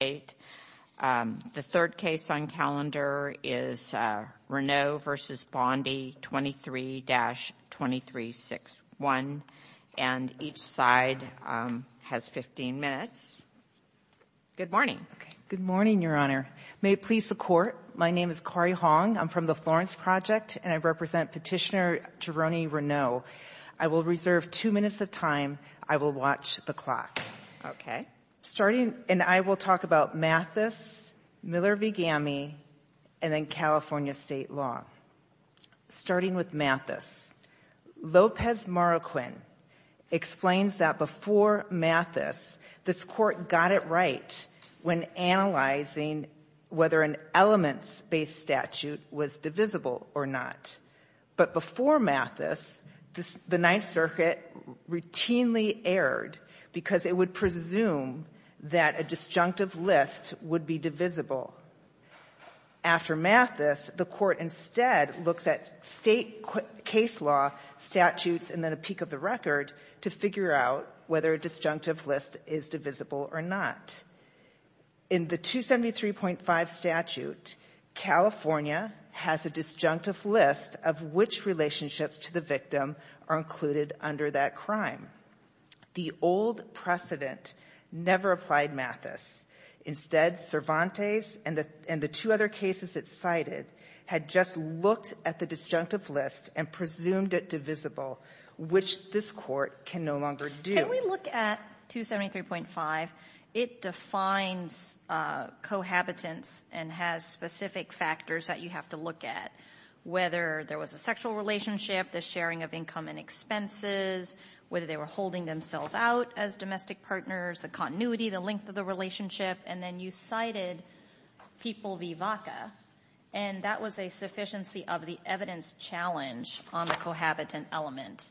23-2361, and each side has 15 minutes. Good morning. Good morning, Your Honor. May it please the Court. My name is Kari Hong. I'm from the Florence Project, and I represent Petitioner Jeroni Reneau. I will reserve two minutes of time. I will watch the clock. Okay. Starting, and I will talk about Mathis, Miller v. Gamme, and then California state law. Starting with Mathis, Lopez Marroquin explains that before Mathis, this Court got it right when analyzing whether an elements-based statute was divisible or not. But before Mathis, the Ninth Circuit routinely erred because it would presume that a disjunctive list would be divisible. After Mathis, the Court instead looks at state case law statutes and then a peak of the record to figure out whether a disjunctive list is divisible or not. In the 273.5 statute, California has a disjunctive list of which relationships to the victim are included under that crime. The old precedent never applied Mathis. Instead, Cervantes and the two other cases it cited had just looked at the disjunctive list and presumed it divisible, which this Court can no longer do. Can we look at 273.5? It defines cohabitants and has specific factors that you have to look at, whether there was a sexual relationship, the sharing of income and expenses, whether they were holding themselves out as domestic partners, the continuity, the length of the relationship. And then you cited People v. Vaca, and that was a sufficiency of the evidence challenge on the cohabitant element.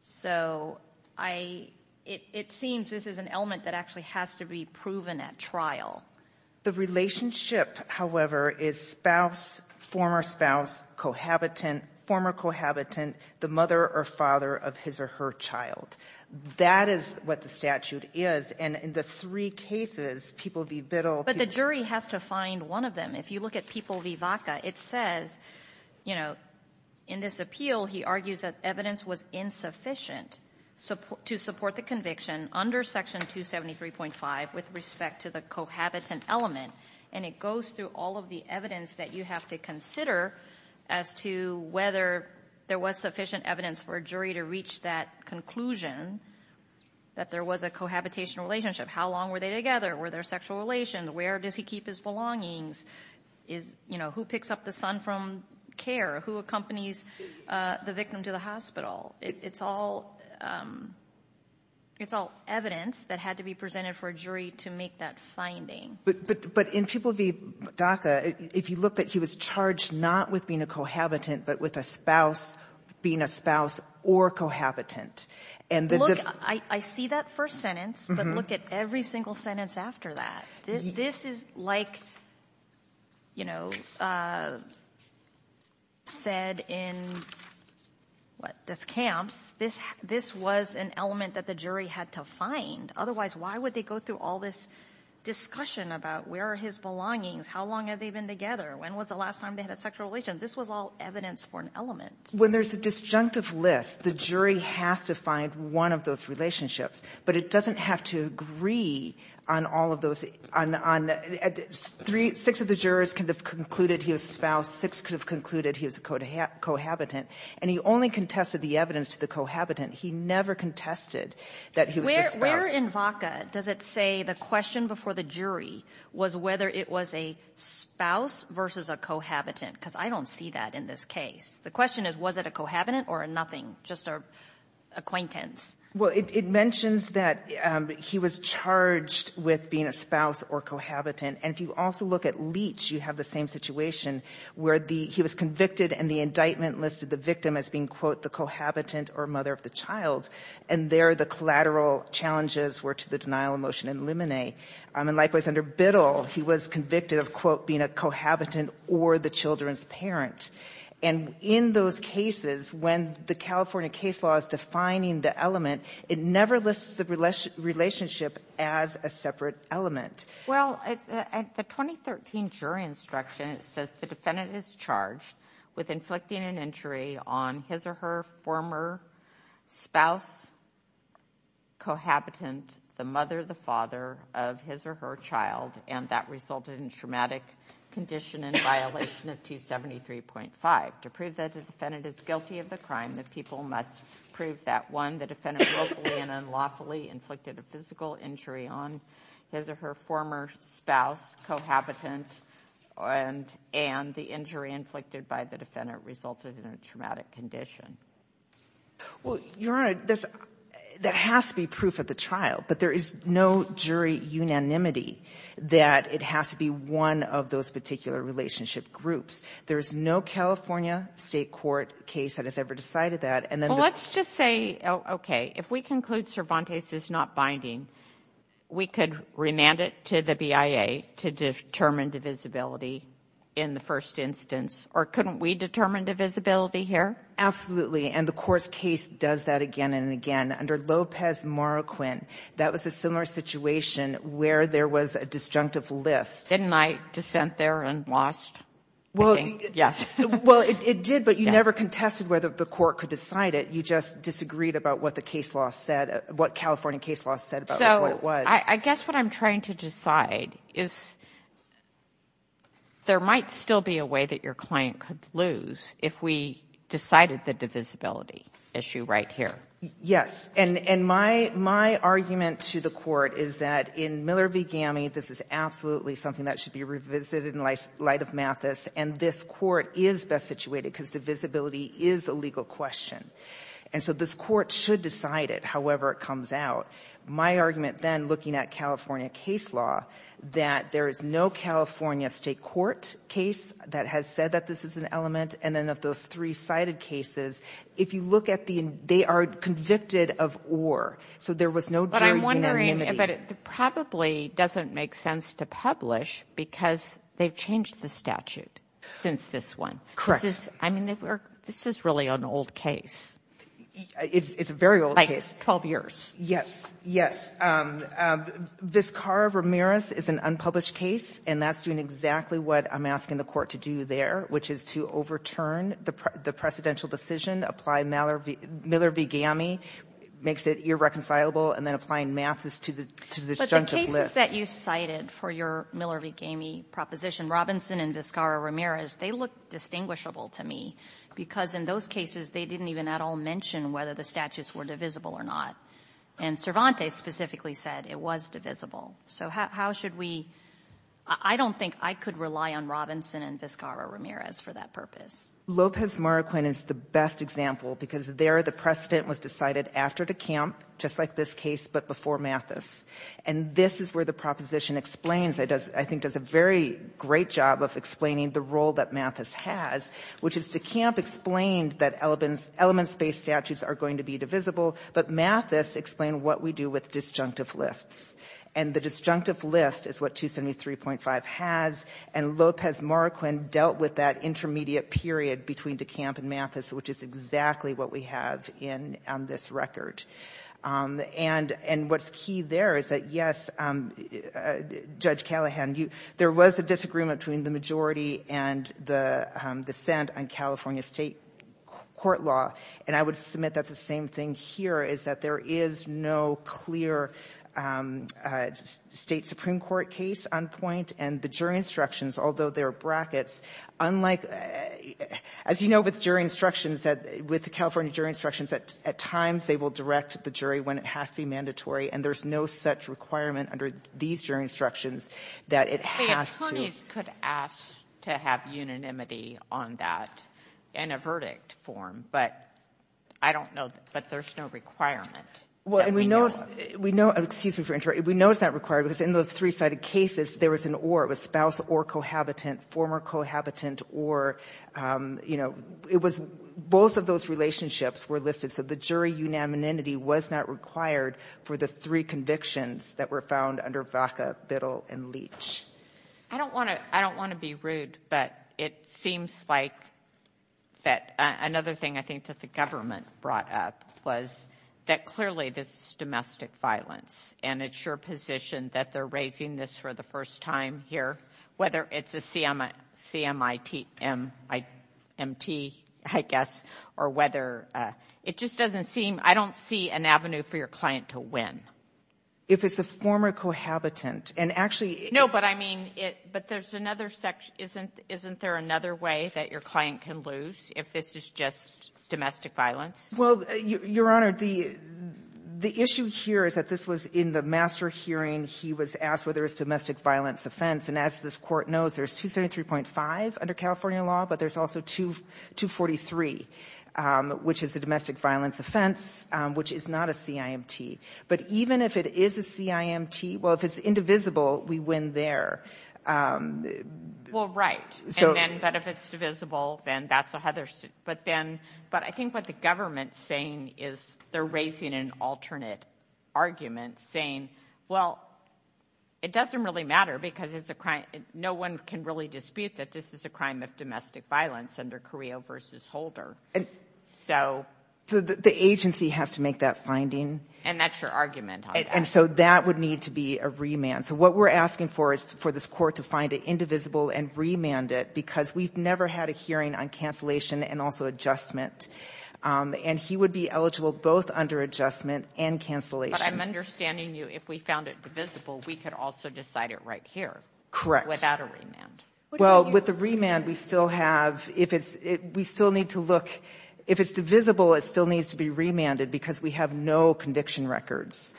So I — it seems this is an element that actually has to be proven at trial. The relationship, however, is spouse, former spouse, cohabitant, former cohabitant, the mother or father of his or her child. That is what the statute is. And in the three cases, People v. Biddle — But the jury has to find one of them. If you look at People v. Vaca, it says, you know, in this appeal he argues that the evidence was insufficient to support the conviction under Section 273.5 with respect to the cohabitant element. And it goes through all of the evidence that you have to consider as to whether there was sufficient evidence for a jury to reach that conclusion, that there was a cohabitation relationship. How long were they together? Were there sexual relations? Where does he keep his belongings? Is — you know, who picks up the son from care? Who accompanies the victim to the hospital? It's all evidence that had to be presented for a jury to make that finding. But in People v. Vaca, if you look at he was charged not with being a cohabitant but with a spouse being a spouse or a cohabitant. Look, I see that first sentence, but look at every single sentence after that. This is like, you know, said in, what, Descamps. This was an element that the jury had to find. Otherwise, why would they go through all this discussion about where are his belongings? How long have they been together? When was the last time they had a sexual relation? This was all evidence for an element. When there's a disjunctive list, the jury has to find one of those relationships, but it doesn't have to agree on all of those — on — six of the jurors could have concluded he was a spouse, six could have concluded he was a cohabitant, and he only contested the evidence to the cohabitant. He never contested that he was a spouse. Where in Vaca does it say the question before the jury was whether it was a spouse versus a cohabitant? Because I don't see that in this case. The question is, was it a cohabitant or a nothing, just an acquaintance? Well, it mentions that he was charged with being a spouse or cohabitant. And if you also look at Leach, you have the same situation where he was convicted and the indictment listed the victim as being, quote, the cohabitant or mother of the child. And there the collateral challenges were to the denial of motion and limine. And likewise, under Biddle, he was convicted of, quote, being a cohabitant or the children's parent. And in those cases, when the California case law is defining the element, it never lists the relationship as a separate element. Well, at the 2013 jury instruction, it says the defendant is charged with inflicting an injury on his or her former spouse, cohabitant, the mother, the father of his or her child, and that resulted in traumatic condition in violation of 273.5. To prove that the defendant is guilty of the crime, the people must prove that, one, the defendant willfully and unlawfully inflicted a physical injury on his or her former spouse, cohabitant, and the injury inflicted by the defendant resulted in a traumatic condition. Well, Your Honor, there has to be proof at the trial, but there is no jury unanimity that it has to be one of those particular relationship groups. There is no California state court case that has ever decided that. Well, let's just say, okay, if we conclude Cervantes is not binding, we could remand it to the BIA to determine divisibility in the first instance, or couldn't we determine divisibility here? Absolutely, and the court's case does that again and again. Under Lopez-Moroquin, that was a similar situation where there was a disjunctive list. Didn't I dissent there and lost? Well, it did, but you never contested whether the court could decide it. You just disagreed about what the case law said, what California case law said about what it was. So I guess what I'm trying to decide is there might still be a way that your client could lose if we decided the divisibility issue right here. Yes, and my argument to the court is that in Miller v. Gami, this is absolutely something that should be revisited in light of Mathis, and this court is best situated because divisibility is a legal question. And so this court should decide it, however it comes out. My argument then, looking at California case law, that there is no California state court case that has said that this is an element, and then of those three-sided cases, if you look at the end, they are convicted of or. So there was no jury unanimity. But I'm wondering, but it probably doesn't make sense to publish because they've changed the statute since this one. Correct. I mean, this is really an old case. It's a very old case. Like 12 years. Yes, yes. Vizcarra-Ramirez is an unpublished case, and that's doing exactly what I'm asking the court to do there, which is to overturn the precedential decision, apply Miller v. Gami, makes it irreconcilable, and then applying Mathis to the disjunctive list. But the cases that you cited for your Miller v. Gami proposition, Robinson and Vizcarra-Ramirez, they look distinguishable to me because in those cases they didn't even at all mention whether the statutes were divisible or not. And Cervantes specifically said it was divisible. So how should we — I don't think I could rely on Robinson and Vizcarra-Ramirez for that purpose. Lopez-Maracuena is the best example because there the precedent was decided after DeCamp, just like this case, but before Mathis. And this is where the proposition explains, I think does a very great job of explaining the role that Mathis has, which is DeCamp explained that elements-based statutes are going to be divisible, but Mathis explained what we do with disjunctive lists. And the disjunctive list is what 273.5 has. And Lopez-Maracuena dealt with that intermediate period between DeCamp and Mathis, which is exactly what we have in this record. And what's key there is that, yes, Judge Callahan, there was a disagreement between the majority and the dissent on California state court law. And I would submit that the same thing here is that there is no clear state Supreme Court case on point. And the jury instructions, although there are brackets, unlike — as you know with jury instructions, with the California jury instructions, at times they will direct the jury when it has to be mandatory, and there's no such requirement under these jury instructions that it has to — I don't know, but there's no requirement. And we know — excuse me for interrupting. We know it's not required because in those three-sided cases, there was an or. It was spouse or cohabitant, former cohabitant or, you know, it was both of those relationships were listed. So the jury unanimity was not required for the three convictions that were found under Vaca, Biddle, and Leach. I don't want to be rude, but it seems like that another thing I think that the government brought up was that clearly this is domestic violence, and it's your position that they're raising this for the first time here, whether it's a CMIT, I guess, or whether — it just doesn't seem — I don't see an avenue for your client to win. If it's the former cohabitant, and actually — No, but I mean — but there's another — isn't there another way that your client can lose if this is just domestic violence? Well, Your Honor, the issue here is that this was in the master hearing. He was asked whether it's a domestic violence offense, and as this Court knows, there's 273.5 under California law, but there's also 243, which is a domestic violence offense, which is not a CIMT. But even if it is a CIMT — well, if it's indivisible, we win there. Well, right, but if it's divisible, then that's a — but then — but I think what the government's saying is they're raising an alternate argument, saying, well, it doesn't really matter because it's a crime — no one can really dispute that this is a crime of domestic violence under Carrillo v. Holder. So — The agency has to make that finding. And that's your argument on that. And so that would need to be a remand. So what we're asking for is for this Court to find it indivisible and remand it because we've never had a hearing on cancellation and also adjustment, and he would be eligible both under adjustment and cancellation. But I'm understanding you, if we found it divisible, we could also decide it right here. Correct. Without a remand. Well, with the remand, we still have — if it's — we still need to look — if it's divisible, it still needs to be remanded because we have no conviction records.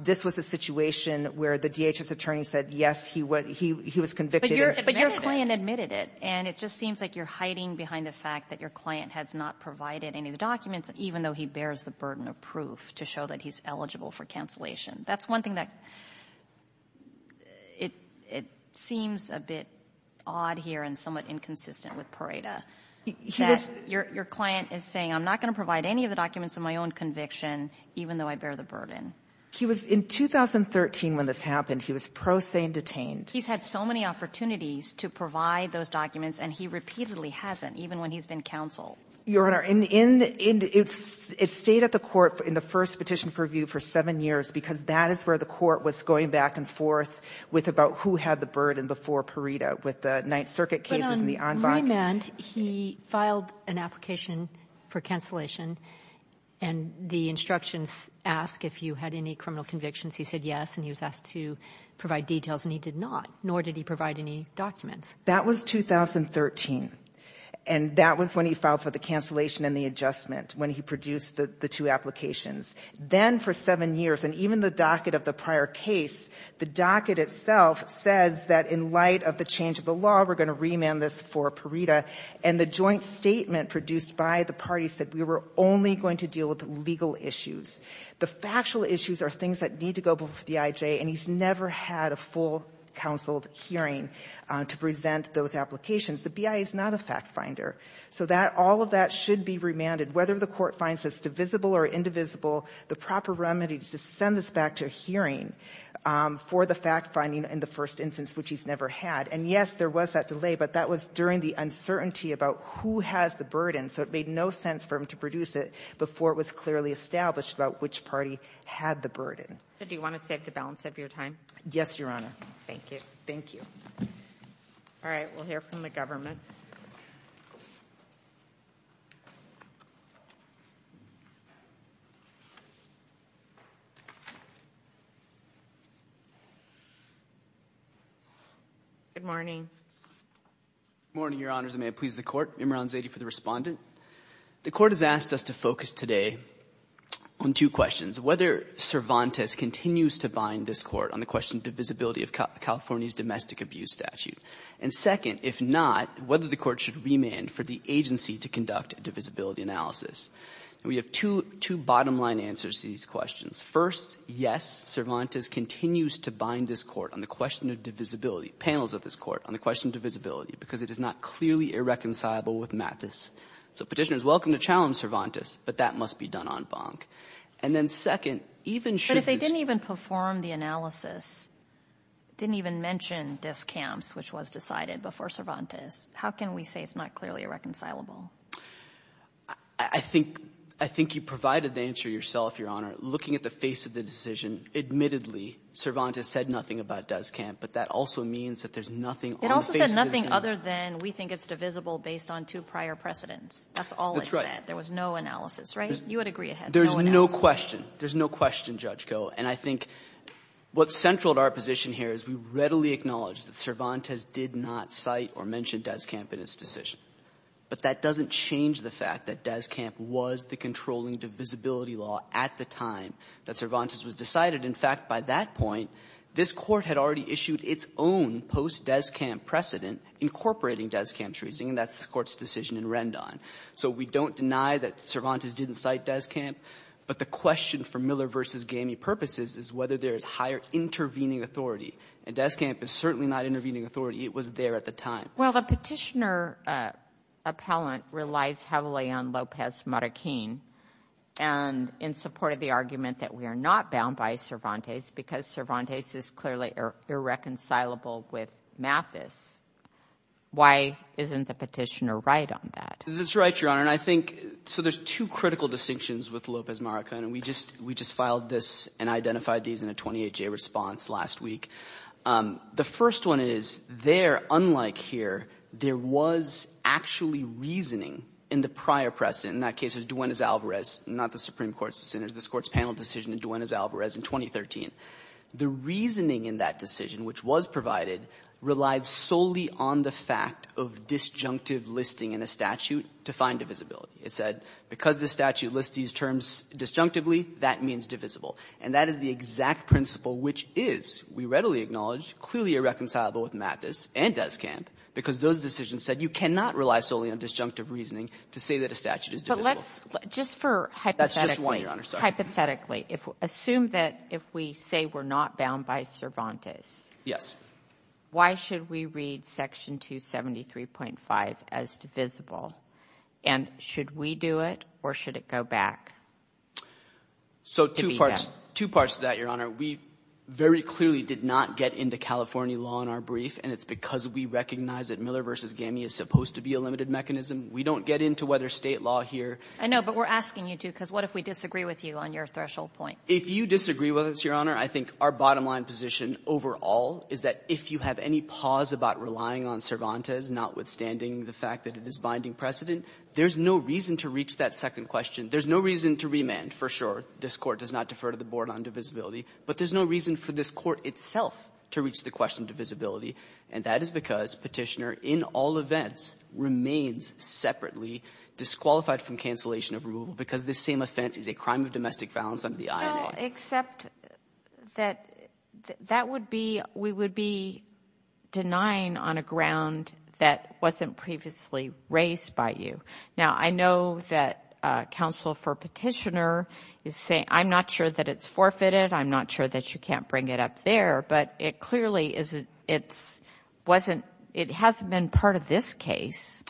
This was a situation where the DHS attorney said, yes, he was convicted. But your client admitted it. And it just seems like you're hiding behind the fact that your client has not provided any of the documents, even though he bears the burden of proof to show that he's eligible for cancellation. That's one thing that — it seems a bit odd here and somewhat inconsistent with Pareda. He was — That your client is saying, I'm not going to provide any of the documents of my own conviction, even though I bear the burden. He was — in 2013, when this happened, he was pro se and detained. He's had so many opportunities to provide those documents, and he repeatedly hasn't, even when he's been counseled. Your Honor, in — it stayed at the Court in the first petition purview for seven years because that is where the Court was going back and forth with about who had the burden before Pareda, with the Ninth Circuit cases and the en banc. But on remand, he filed an application for cancellation, and the instructions ask if you had any criminal convictions. He said yes, and he was asked to provide details, and he did not, nor did he provide any documents. That was 2013. And that was when he filed for the cancellation and the adjustment, when he produced the two applications. Then for seven years, and even the docket of the prior case, the docket itself says that in light of the change of the law, we're going to remand this for Pareda. And the joint statement produced by the parties said we were only going to deal with legal issues. The factual issues are things that need to go before the IJ, and he's never had a full counseled hearing to present those applications. The BIA is not a fact finder. So that — all of that should be remanded, whether the Court finds this divisible or indivisible. The proper remedy is to send this back to a hearing for the fact finding in the first instance, which he's never had. And yes, there was that delay, but that was during the uncertainty about who has the burden. So it made no sense for him to produce it before it was clearly established about which party had the burden. So do you want to save the balance of your time? Yes, Your Honor. Thank you. Thank you. All right. We'll hear from the government. Good morning. Good morning, Your Honors, and may it please the Court. Imran Zaidi for the Respondent. The Court has asked us to focus today on two questions. Whether Cervantes continues to bind this Court on the question of divisibility of California's domestic abuse statute. And second, if not, whether the Court should remand for the agency to conduct a divisibility analysis. And we have two bottom-line answers to these questions. First, yes, Cervantes continues to bind this Court on the question of divisibility – panels of this Court on the question of divisibility because it is not clearly irreconcilable with Mathis. So Petitioners, welcome to challenge Cervantes, but that must be done en banc. And then second, even should this – But if they didn't even perform the analysis, didn't even mention discounts, which was decided before Cervantes, how can we say it's not clearly irreconcilable? I think – I think you provided the answer yourself, Your Honor. Looking at the face of the decision, admittedly, Cervantes said nothing about descamp, but that also means that there's nothing on the face of the decision. It also said nothing other than we think it's divisible based on two prior precedents. That's all it said. There was no analysis, right? You would agree it had no analysis. There's no question. There's no question, Judge Koh. And I think what's central to our position here is we readily acknowledge that Cervantes did not cite or mention descamp in its decision. But that doesn't change the fact that descamp was the controlling divisibility law at the time that Cervantes was decided. In fact, by that point, this Court had already issued its own post-descamp precedent incorporating descamp treason, and that's the Court's decision in Rendon. So we don't deny that Cervantes didn't cite descamp, but the question for Miller v. Gamey purposes is whether there is higher intervening authority. And descamp is certainly not intervening authority. It was there at the time. Well, the Petitioner appellant relies heavily on Lopez Marroquin and in support of the argument that we are not bound by Cervantes because Cervantes is clearly irreconcilable with Mathis. Why isn't the Petitioner right on that? That's right, Your Honor. And I think so there's two critical distinctions with Lopez Marroquin, and we just filed this and identified these in a 28-J response last week. The first one is there, unlike here, there was actually reasoning in the prior precedent. In that case, it was Duenas-Alvarez, not the Supreme Court's decision. It was this Court's panel decision in Duenas-Alvarez in 2013. The reasoning in that decision, which was provided, relied solely on the fact of disjunctive listing in a statute to find divisibility. It said because the statute lists these terms disjunctively, that means divisible. And that is the exact principle which is, we readily acknowledge, clearly irreconcilable with Mathis and Descamp because those decisions said you cannot rely solely on disjunctive reasoning to say that a statute is divisible. But let's just for hypothetically. That's just one, Your Honor. Hypothetically. Assume that if we say we're not bound by Cervantes. Yes. Why should we read Section 273.5 as divisible? And should we do it, or should it go back? So two parts to that, Your Honor. We very clearly did not get into California law in our brief, and it's because we recognize that Miller v. Gamey is supposed to be a limited mechanism. We don't get into whether State law here. I know, but we're asking you to because what if we disagree with you on your threshold point? If you disagree with us, Your Honor, I think our bottom line position overall is that if you have any pause about relying on Cervantes, notwithstanding the fact that it is binding precedent, there's no reason to reach that second question. There's no reason to remand, for sure. This Court does not defer to the Board on divisibility. But there's no reason for this Court itself to reach the question of divisibility. And that is because Petitioner in all events remains separately disqualified from cancellation of removal because this same offense is a crime of domestic violence under the INA. Well, except that we would be denying on a ground that wasn't previously raised by you. Now, I know that counsel for Petitioner is saying, I'm not sure that it's forfeited, I'm not sure that you can't bring it up there, but it clearly hasn't been part of this case.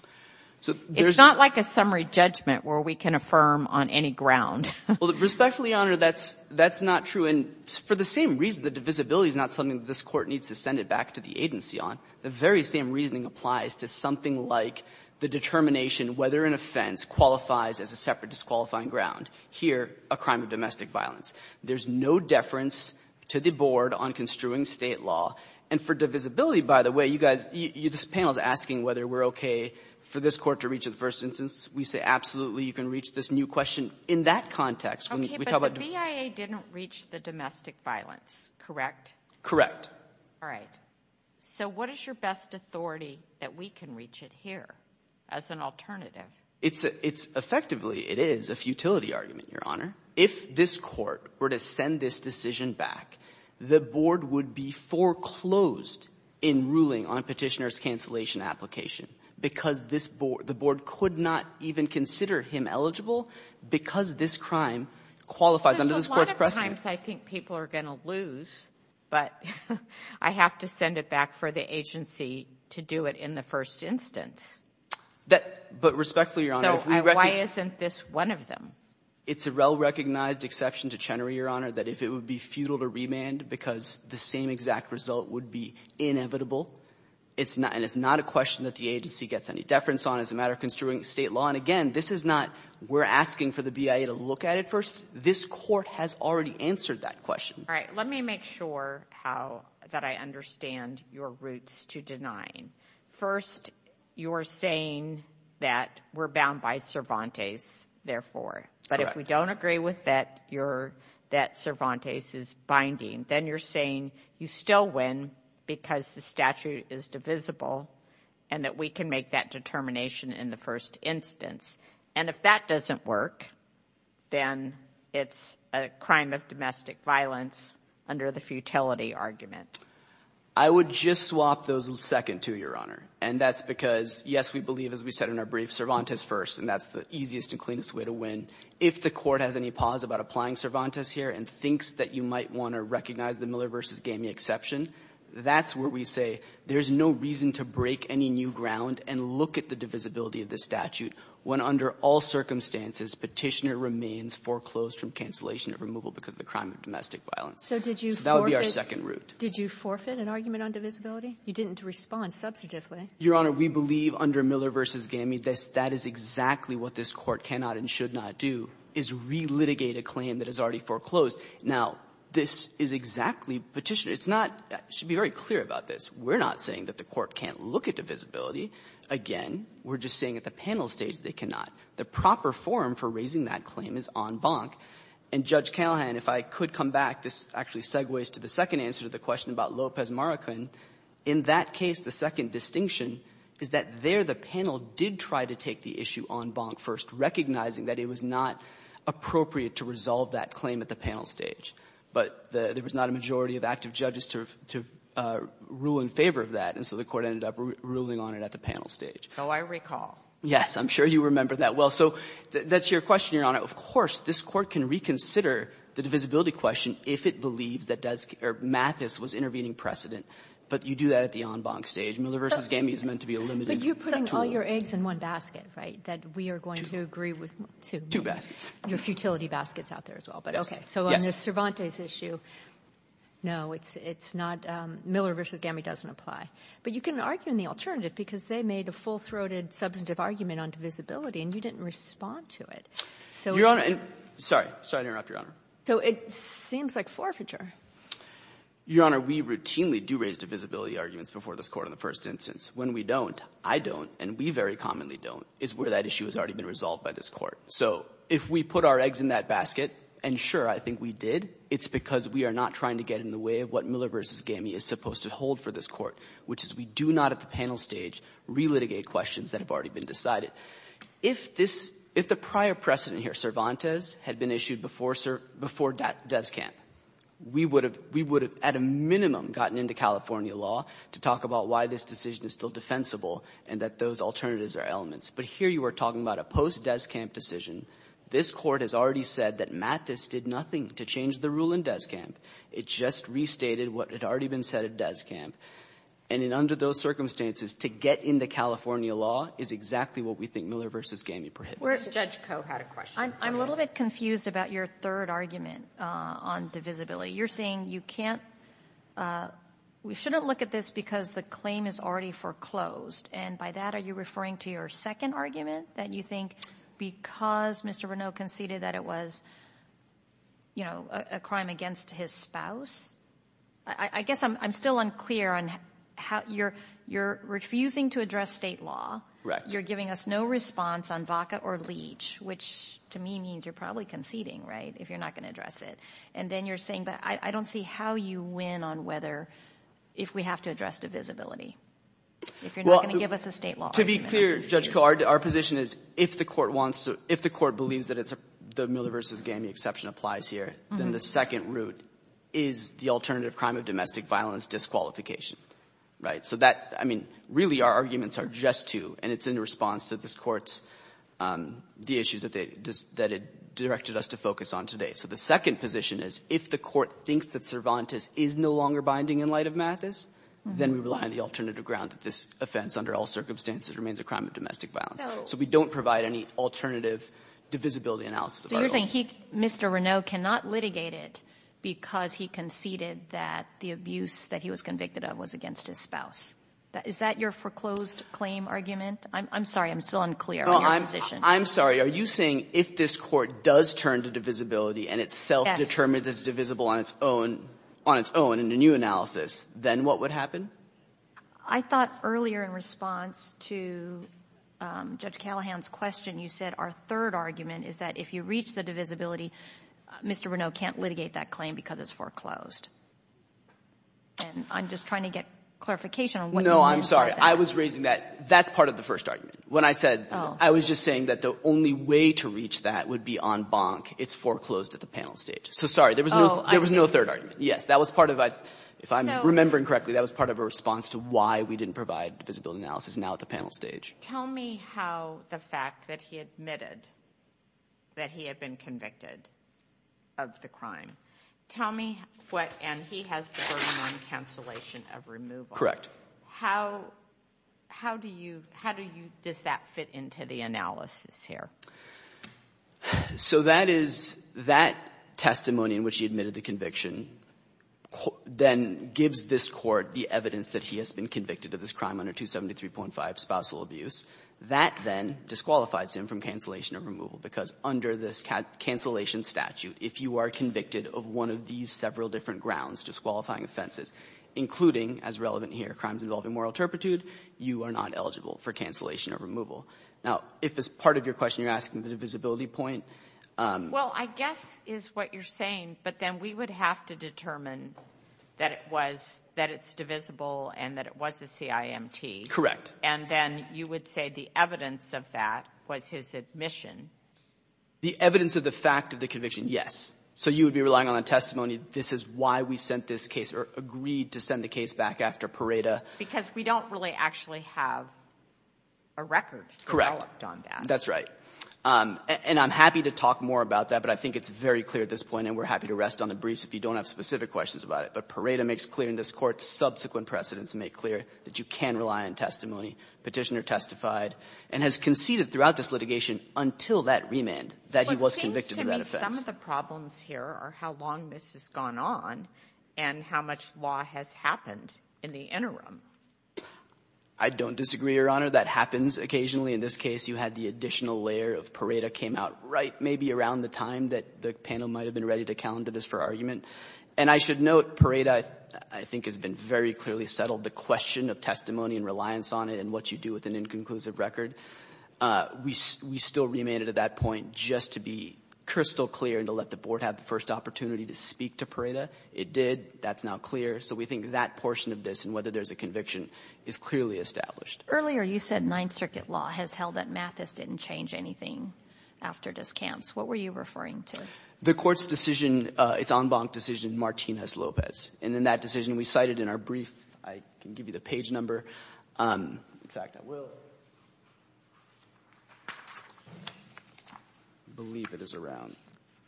It's not like a summary judgment where we can affirm on any ground. Well, respectfully, Your Honor, that's not true. And for the same reason that divisibility is not something that this Court needs to send it back to the agency on, the very same reasoning applies to something like the determination whether an offense qualifies as a separate disqualifying ground, here a crime of domestic violence. There's no deference to the Board on construing State law. And for divisibility, by the way, you guys, this panel is asking whether we're okay for this Court to reach the first instance. We say, absolutely, you can reach this new question. In that context, when we talk about the – Okay, but the BIA didn't reach the domestic violence, correct? Correct. All right. So what is your best authority that we can reach it here as an alternative? Effectively, it is a futility argument, Your Honor. If this Court were to send this decision back, the Board would be foreclosed in ruling on Petitioner's cancellation application because the Board could not even consider him eligible because this crime qualifies under this Court's precedent. Because a lot of times I think people are going to lose, but I have to send it back for the agency to do it in the first instance. That – but respectfully, Your Honor, if we – So why isn't this one of them? It's a well-recognized exception to Chenery, Your Honor, that if it would be futile to remand because the same exact result would be inevitable, and it's not a question that the agency gets any deference on. It's a matter of construing state law. And again, this is not we're asking for the BIA to look at it first. This Court has already answered that question. All right. Let me make sure how – that I understand your roots to denying. First, you're saying that we're bound by Cervantes, therefore. Correct. But if we don't agree with that, you're – that Cervantes is binding. Then you're saying you still win because the statute is divisible and that we can make that determination in the first instance. And if that doesn't work, then it's a crime of domestic violence under the futility argument. I would just swap those a second, too, Your Honor. And that's because, yes, we believe, as we said in our brief, Cervantes first, and that's the easiest and cleanest way to win. If the Court has any pause about applying Cervantes here and thinks that you might want to recognize the Miller v. Gamey exception, that's where we say there's no reason to break any new ground and look at the divisibility of the statute when, under all circumstances, Petitioner remains foreclosed from cancellation of removal because of a crime of domestic violence. So that would be our second route. Did you forfeit an argument on divisibility? You didn't respond substantively. Your Honor, we believe under Miller v. Gamey that that is exactly what this Court cannot and should not do, is relitigate a claim that is already foreclosed. Now, this is exactly Petitioner. It's not — it should be very clear about this. We're not saying that the Court can't look at divisibility. Again, we're just saying at the panel stage they cannot. The proper forum for raising that claim is en banc. And, Judge Callahan, if I could come back, this actually segues to the second answer to the question about Lopez-Maracan. In that case, the second distinction is that there the panel did try to take the issue en banc first, recognizing that it was not appropriate to resolve that claim at the panel stage, but there was not a majority of active judges to rule in favor of that. And so the Court ended up ruling on it at the panel stage. So I recall. Yes. I'm sure you remember that well. So that's your question, Your Honor. Of course, this Court can reconsider the divisibility question if it believes that does — or Mathis was intervening precedent. But you do that at the en banc stage. Miller v. Gamey is meant to be a limited tool. But you're putting all your eggs in one basket, right? That we are going to agree with two. Your futility basket is out there as well. Yes. But, okay, so on the Cervantes issue, no, it's not — Miller v. Gamey doesn't apply. But you can argue in the alternative because they made a full-throated substantive argument on divisibility, and you didn't respond to it. So — Your Honor — sorry. Sorry to interrupt, Your Honor. So it seems like forfeiture. Your Honor, we routinely do raise divisibility arguments before this Court on the first instance. When we don't, I don't, and we very commonly don't, is where that issue has already been resolved by this Court. So if we put our eggs in that basket, and sure, I think we did, it's because we are not trying to get in the way of what Miller v. Gamey is supposed to hold for this Court, which is we do not at the panel stage relitigate questions that have already been decided. If this — if the prior precedent here, Cervantes, had been issued before — before Deskamp, we would have — we would have at a minimum gotten into California law to talk about why this decision is still defensible and that those alternatives are elements. But here you are talking about a post-Deskamp decision. This Court has already said that Mathis did nothing to change the rule in Deskamp. It just restated what had already been said at Deskamp. And in under those circumstances, to get into California law is exactly what we think Miller v. Gamey prohibits. We're — Judge Koh had a question. I'm a little bit confused about your third argument on divisibility. You're saying you can't — we shouldn't look at this because the claim is already foreclosed. And by that, are you referring to your second argument, that you think because Mr. Reneau conceded that it was, you know, a crime against his spouse? I guess I'm still unclear on how — you're refusing to address state law. Correct. You're giving us no response on Vaca or Leach, which to me means you're probably conceding, right, if you're not going to address it. And then you're saying, but I don't see how you win on whether — if we have to address divisibility, if you're not going to give us a state law argument. To be clear, Judge Koh, our position is if the court wants to — if the court believes that it's a — the Miller v. Gamey exception applies here, then the second route is the alternative crime of domestic violence disqualification, right? So that — I mean, really, our arguments are just two, and it's in response to this Court's — the issues that they — that it directed us to focus on today. So the second position is if the court thinks that Cervantes is no longer binding in light of Mathis, then we rely on the alternative ground that this offense, under all circumstances, remains a crime of domestic violence. So we don't provide any alternative divisibility analysis of our own. So you're saying he, Mr. Renaud, cannot litigate it because he conceded that the abuse that he was convicted of was against his spouse? Is that your foreclosed claim argument? I'm sorry, I'm still unclear on your position. I'm sorry. Are you saying if this Court does turn to divisibility and it's self-determined as divisible on its own — on its own in a new analysis, then what would happen? I thought earlier in response to Judge Callahan's question, you said our third argument is that if you reach the divisibility, Mr. Renaud can't litigate that claim because it's foreclosed. And I'm just trying to get clarification on what you mean by that. No, I'm sorry. I was raising that. That's part of the first argument. When I said — I was just saying that the only way to reach that would be en banc. It's foreclosed at the panel stage. So, sorry, there was no third argument. Yes, that was part of — if I'm remembering correctly, that was part of a response to why we didn't provide divisibility analysis now at the panel stage. Tell me how the fact that he admitted that he had been convicted of the crime. Tell me what — and he has the burden on cancellation of removal. Correct. How — how do you — how do you — does that fit into the analysis here? So that is — that testimony in which he admitted the conviction then gives this court the evidence that he has been convicted of this crime under 273.5, spousal abuse. That then disqualifies him from cancellation of removal, because under this cancellation statute, if you are convicted of one of these several different grounds, disqualifying offenses, including, as relevant here, crimes involving moral turpitude, you are not eligible for cancellation or removal. Now, if as part of your question you're asking the divisibility point — Well, I guess is what you're saying, but then we would have to determine that it was — that it's divisible and that it was a CIMT. Correct. And then you would say the evidence of that was his admission. The evidence of the fact of the conviction, yes. So you would be relying on a testimony, this is why we sent this case or agreed to send the case back after Pareto. Because we don't really actually have a record developed on that. Correct. That's right. And I'm happy to talk more about that, but I think it's very clear at this point, and we're happy to rest on the briefs if you don't have specific questions about it. But Pareto makes clear in this Court subsequent precedents make clear that you can rely on testimony. Petitioner testified and has conceded throughout this litigation until that remand that he was convicted of that offense. But some of the problems here are how long this has gone on and how much law has happened in the interim. I don't disagree, Your Honor. That happens occasionally. In this case, you had the additional layer of Pareto came out right maybe around the time that the panel might have been ready to calendar this for argument. And I should note Pareto, I think, has been very clearly settled. The question of testimony and reliance on it and what you do with an inconclusive record, we still remanded at that point just to be crystal clear and to let the Board have the first opportunity to speak to Pareto. It did. That's now clear. So we think that portion of this and whether there's a conviction is clearly established. Earlier, you said Ninth Circuit law has held that Mathis didn't change anything after Discamps. What were you referring to? The Court's decision, its en banc decision, Martinez-Lopez. And in that decision, we cited in our brief, I can give you the page number. In fact, I will. I believe it is around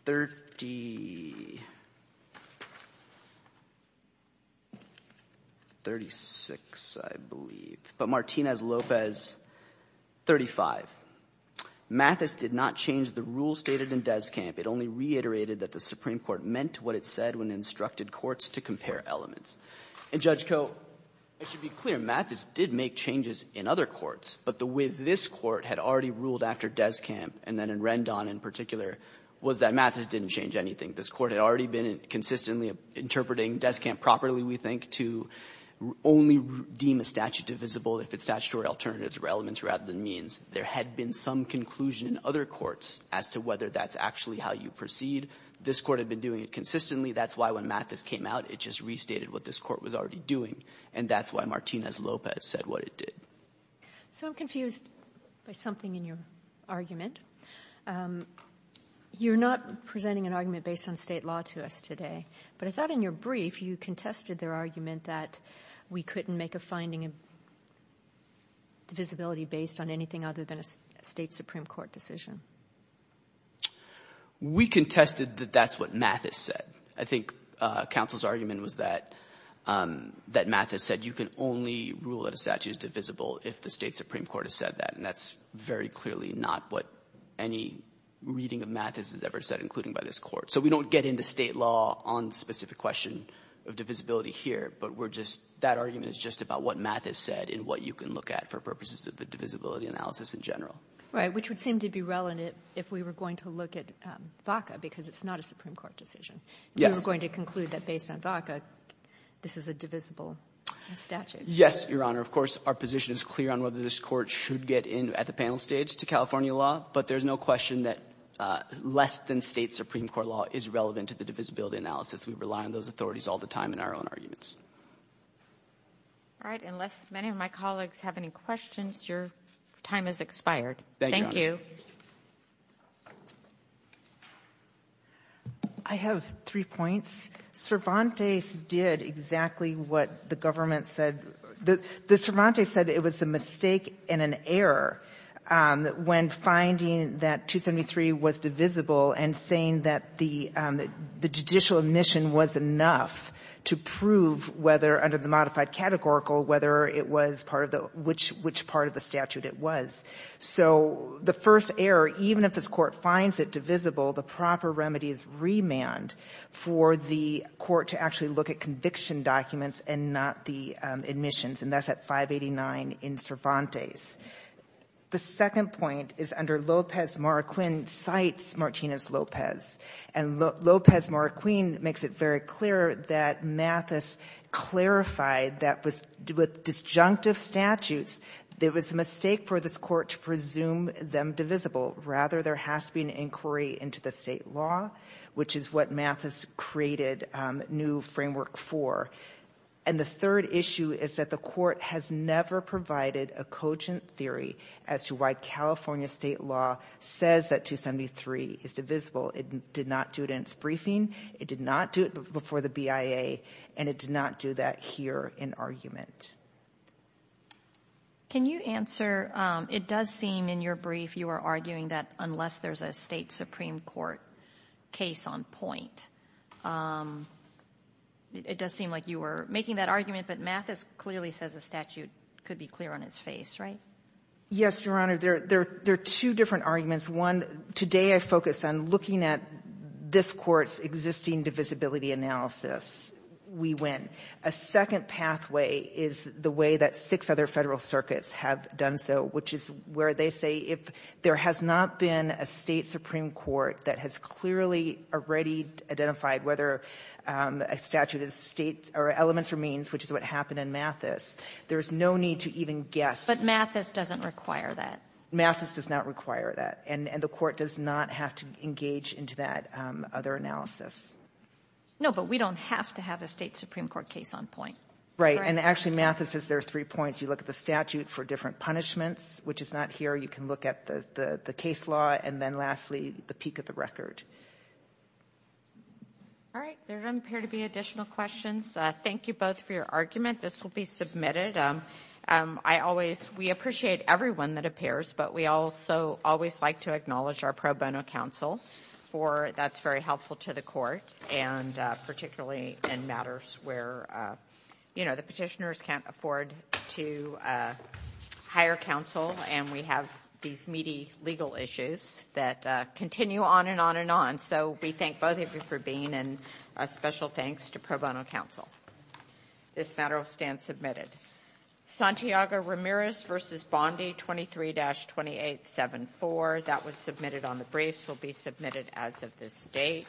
3036, I believe. But Martinez-Lopez, 35. Mathis did not change the rule stated in Descamp. It only reiterated that the Supreme Court meant what it said when it instructed courts to compare elements. And, Judge Koh, I should be clear. Mathis did make changes in other courts. But the way this Court had already ruled after Descamp and then in Rendon in particular was that Mathis didn't change anything. This Court had already been consistently interpreting Descamp properly, we think, to only deem a statute divisible if its statutory alternatives were elements rather than means. There had been some conclusion in other courts as to whether that's actually how you proceed. This Court had been doing it consistently. That's why when Mathis came out, it just restated what this Court was already doing. And that's why Martinez-Lopez said what it did. So I'm confused by something in your argument. You're not presenting an argument based on State law to us today. But I thought in your brief, you contested their argument that we couldn't make a finding of divisibility based on anything other than a State Supreme Court decision. We contested that that's what Mathis said. I think counsel's argument was that Mathis said you can only rule that a statute is divisible if the State Supreme Court has said that. And that's very clearly not what any reading of Mathis has ever said, including by this Court. So we don't get into State law on the specific question of divisibility here. But that argument is just about what Mathis said and what you can look at for purposes of the divisibility analysis in general. Right, which would seem to be relevant if we were going to look at VACA, because it's not a Supreme Court decision. Yes. We were going to conclude that based on VACA, this is a divisible statute. Yes, Your Honor. Of course, our position is clear on whether this Court should get in at the panel stage to California law. But there's no question that less than State Supreme Court law is relevant to the divisibility analysis. We rely on those authorities all the time in our own arguments. All right. Unless many of my colleagues have any questions, your time has expired. Thank you, Your Honor. I have three points. Cervantes did exactly what the government said. The Cervantes said it was a mistake and an error when finding that 273 was divisible and saying that the judicial admission was enough to prove whether, under the modified statute, it was. So the first error, even if this Court finds it divisible, the proper remedy is remand for the Court to actually look at conviction documents and not the admissions. And that's at 589 in Cervantes. The second point is under Lopez-Marraquin cites Martinez-Lopez. And Lopez-Marraquin makes it very clear that Mathis clarified that with disjunctive statutes, there was a mistake for this Court to presume them divisible. Rather, there has to be an inquiry into the State law, which is what Mathis created new framework for. And the third issue is that the Court has never provided a cogent theory as to why California State law says that 273 is divisible. It did not do it in its briefing. It did not do it before the BIA. And it did not do that here in argument. Can you answer, it does seem in your brief you are arguing that unless there's a State Supreme Court case on point. It does seem like you were making that argument, but Mathis clearly says the statute could be clear on its face, right? Yes, Your Honor. There are two different arguments. One, today I focused on looking at this Court's existing divisibility analysis. We win. A second pathway is the way that six other Federal circuits have done so, which is where they say if there has not been a State Supreme Court that has clearly already identified whether a statute is elements or means, which is what happened in Mathis, there's no need to even guess. But Mathis doesn't require that. Mathis does not require that. And the Court does not have to engage into that other analysis. No, but we don't have to have a State Supreme Court case on point. Right. And actually Mathis says there are three points. You look at the statute for different punishments, which is not here. You can look at the case law. And then lastly, the peak of the record. All right. There don't appear to be additional questions. Thank you both for your argument. This will be submitted. I always, we appreciate everyone that appears, but we also always like to acknowledge our pro bono counsel for, that's very helpful to the Court, and particularly in matters where, you know, the petitioners can't afford to hire counsel and we have these meaty legal issues that continue on and on and on. So we thank both of you for being, and a special thanks to pro bono counsel. This matter will stand submitted. Santiago Ramirez v. Bondi, 23-2874. That was submitted on the briefs, will be submitted as of this date.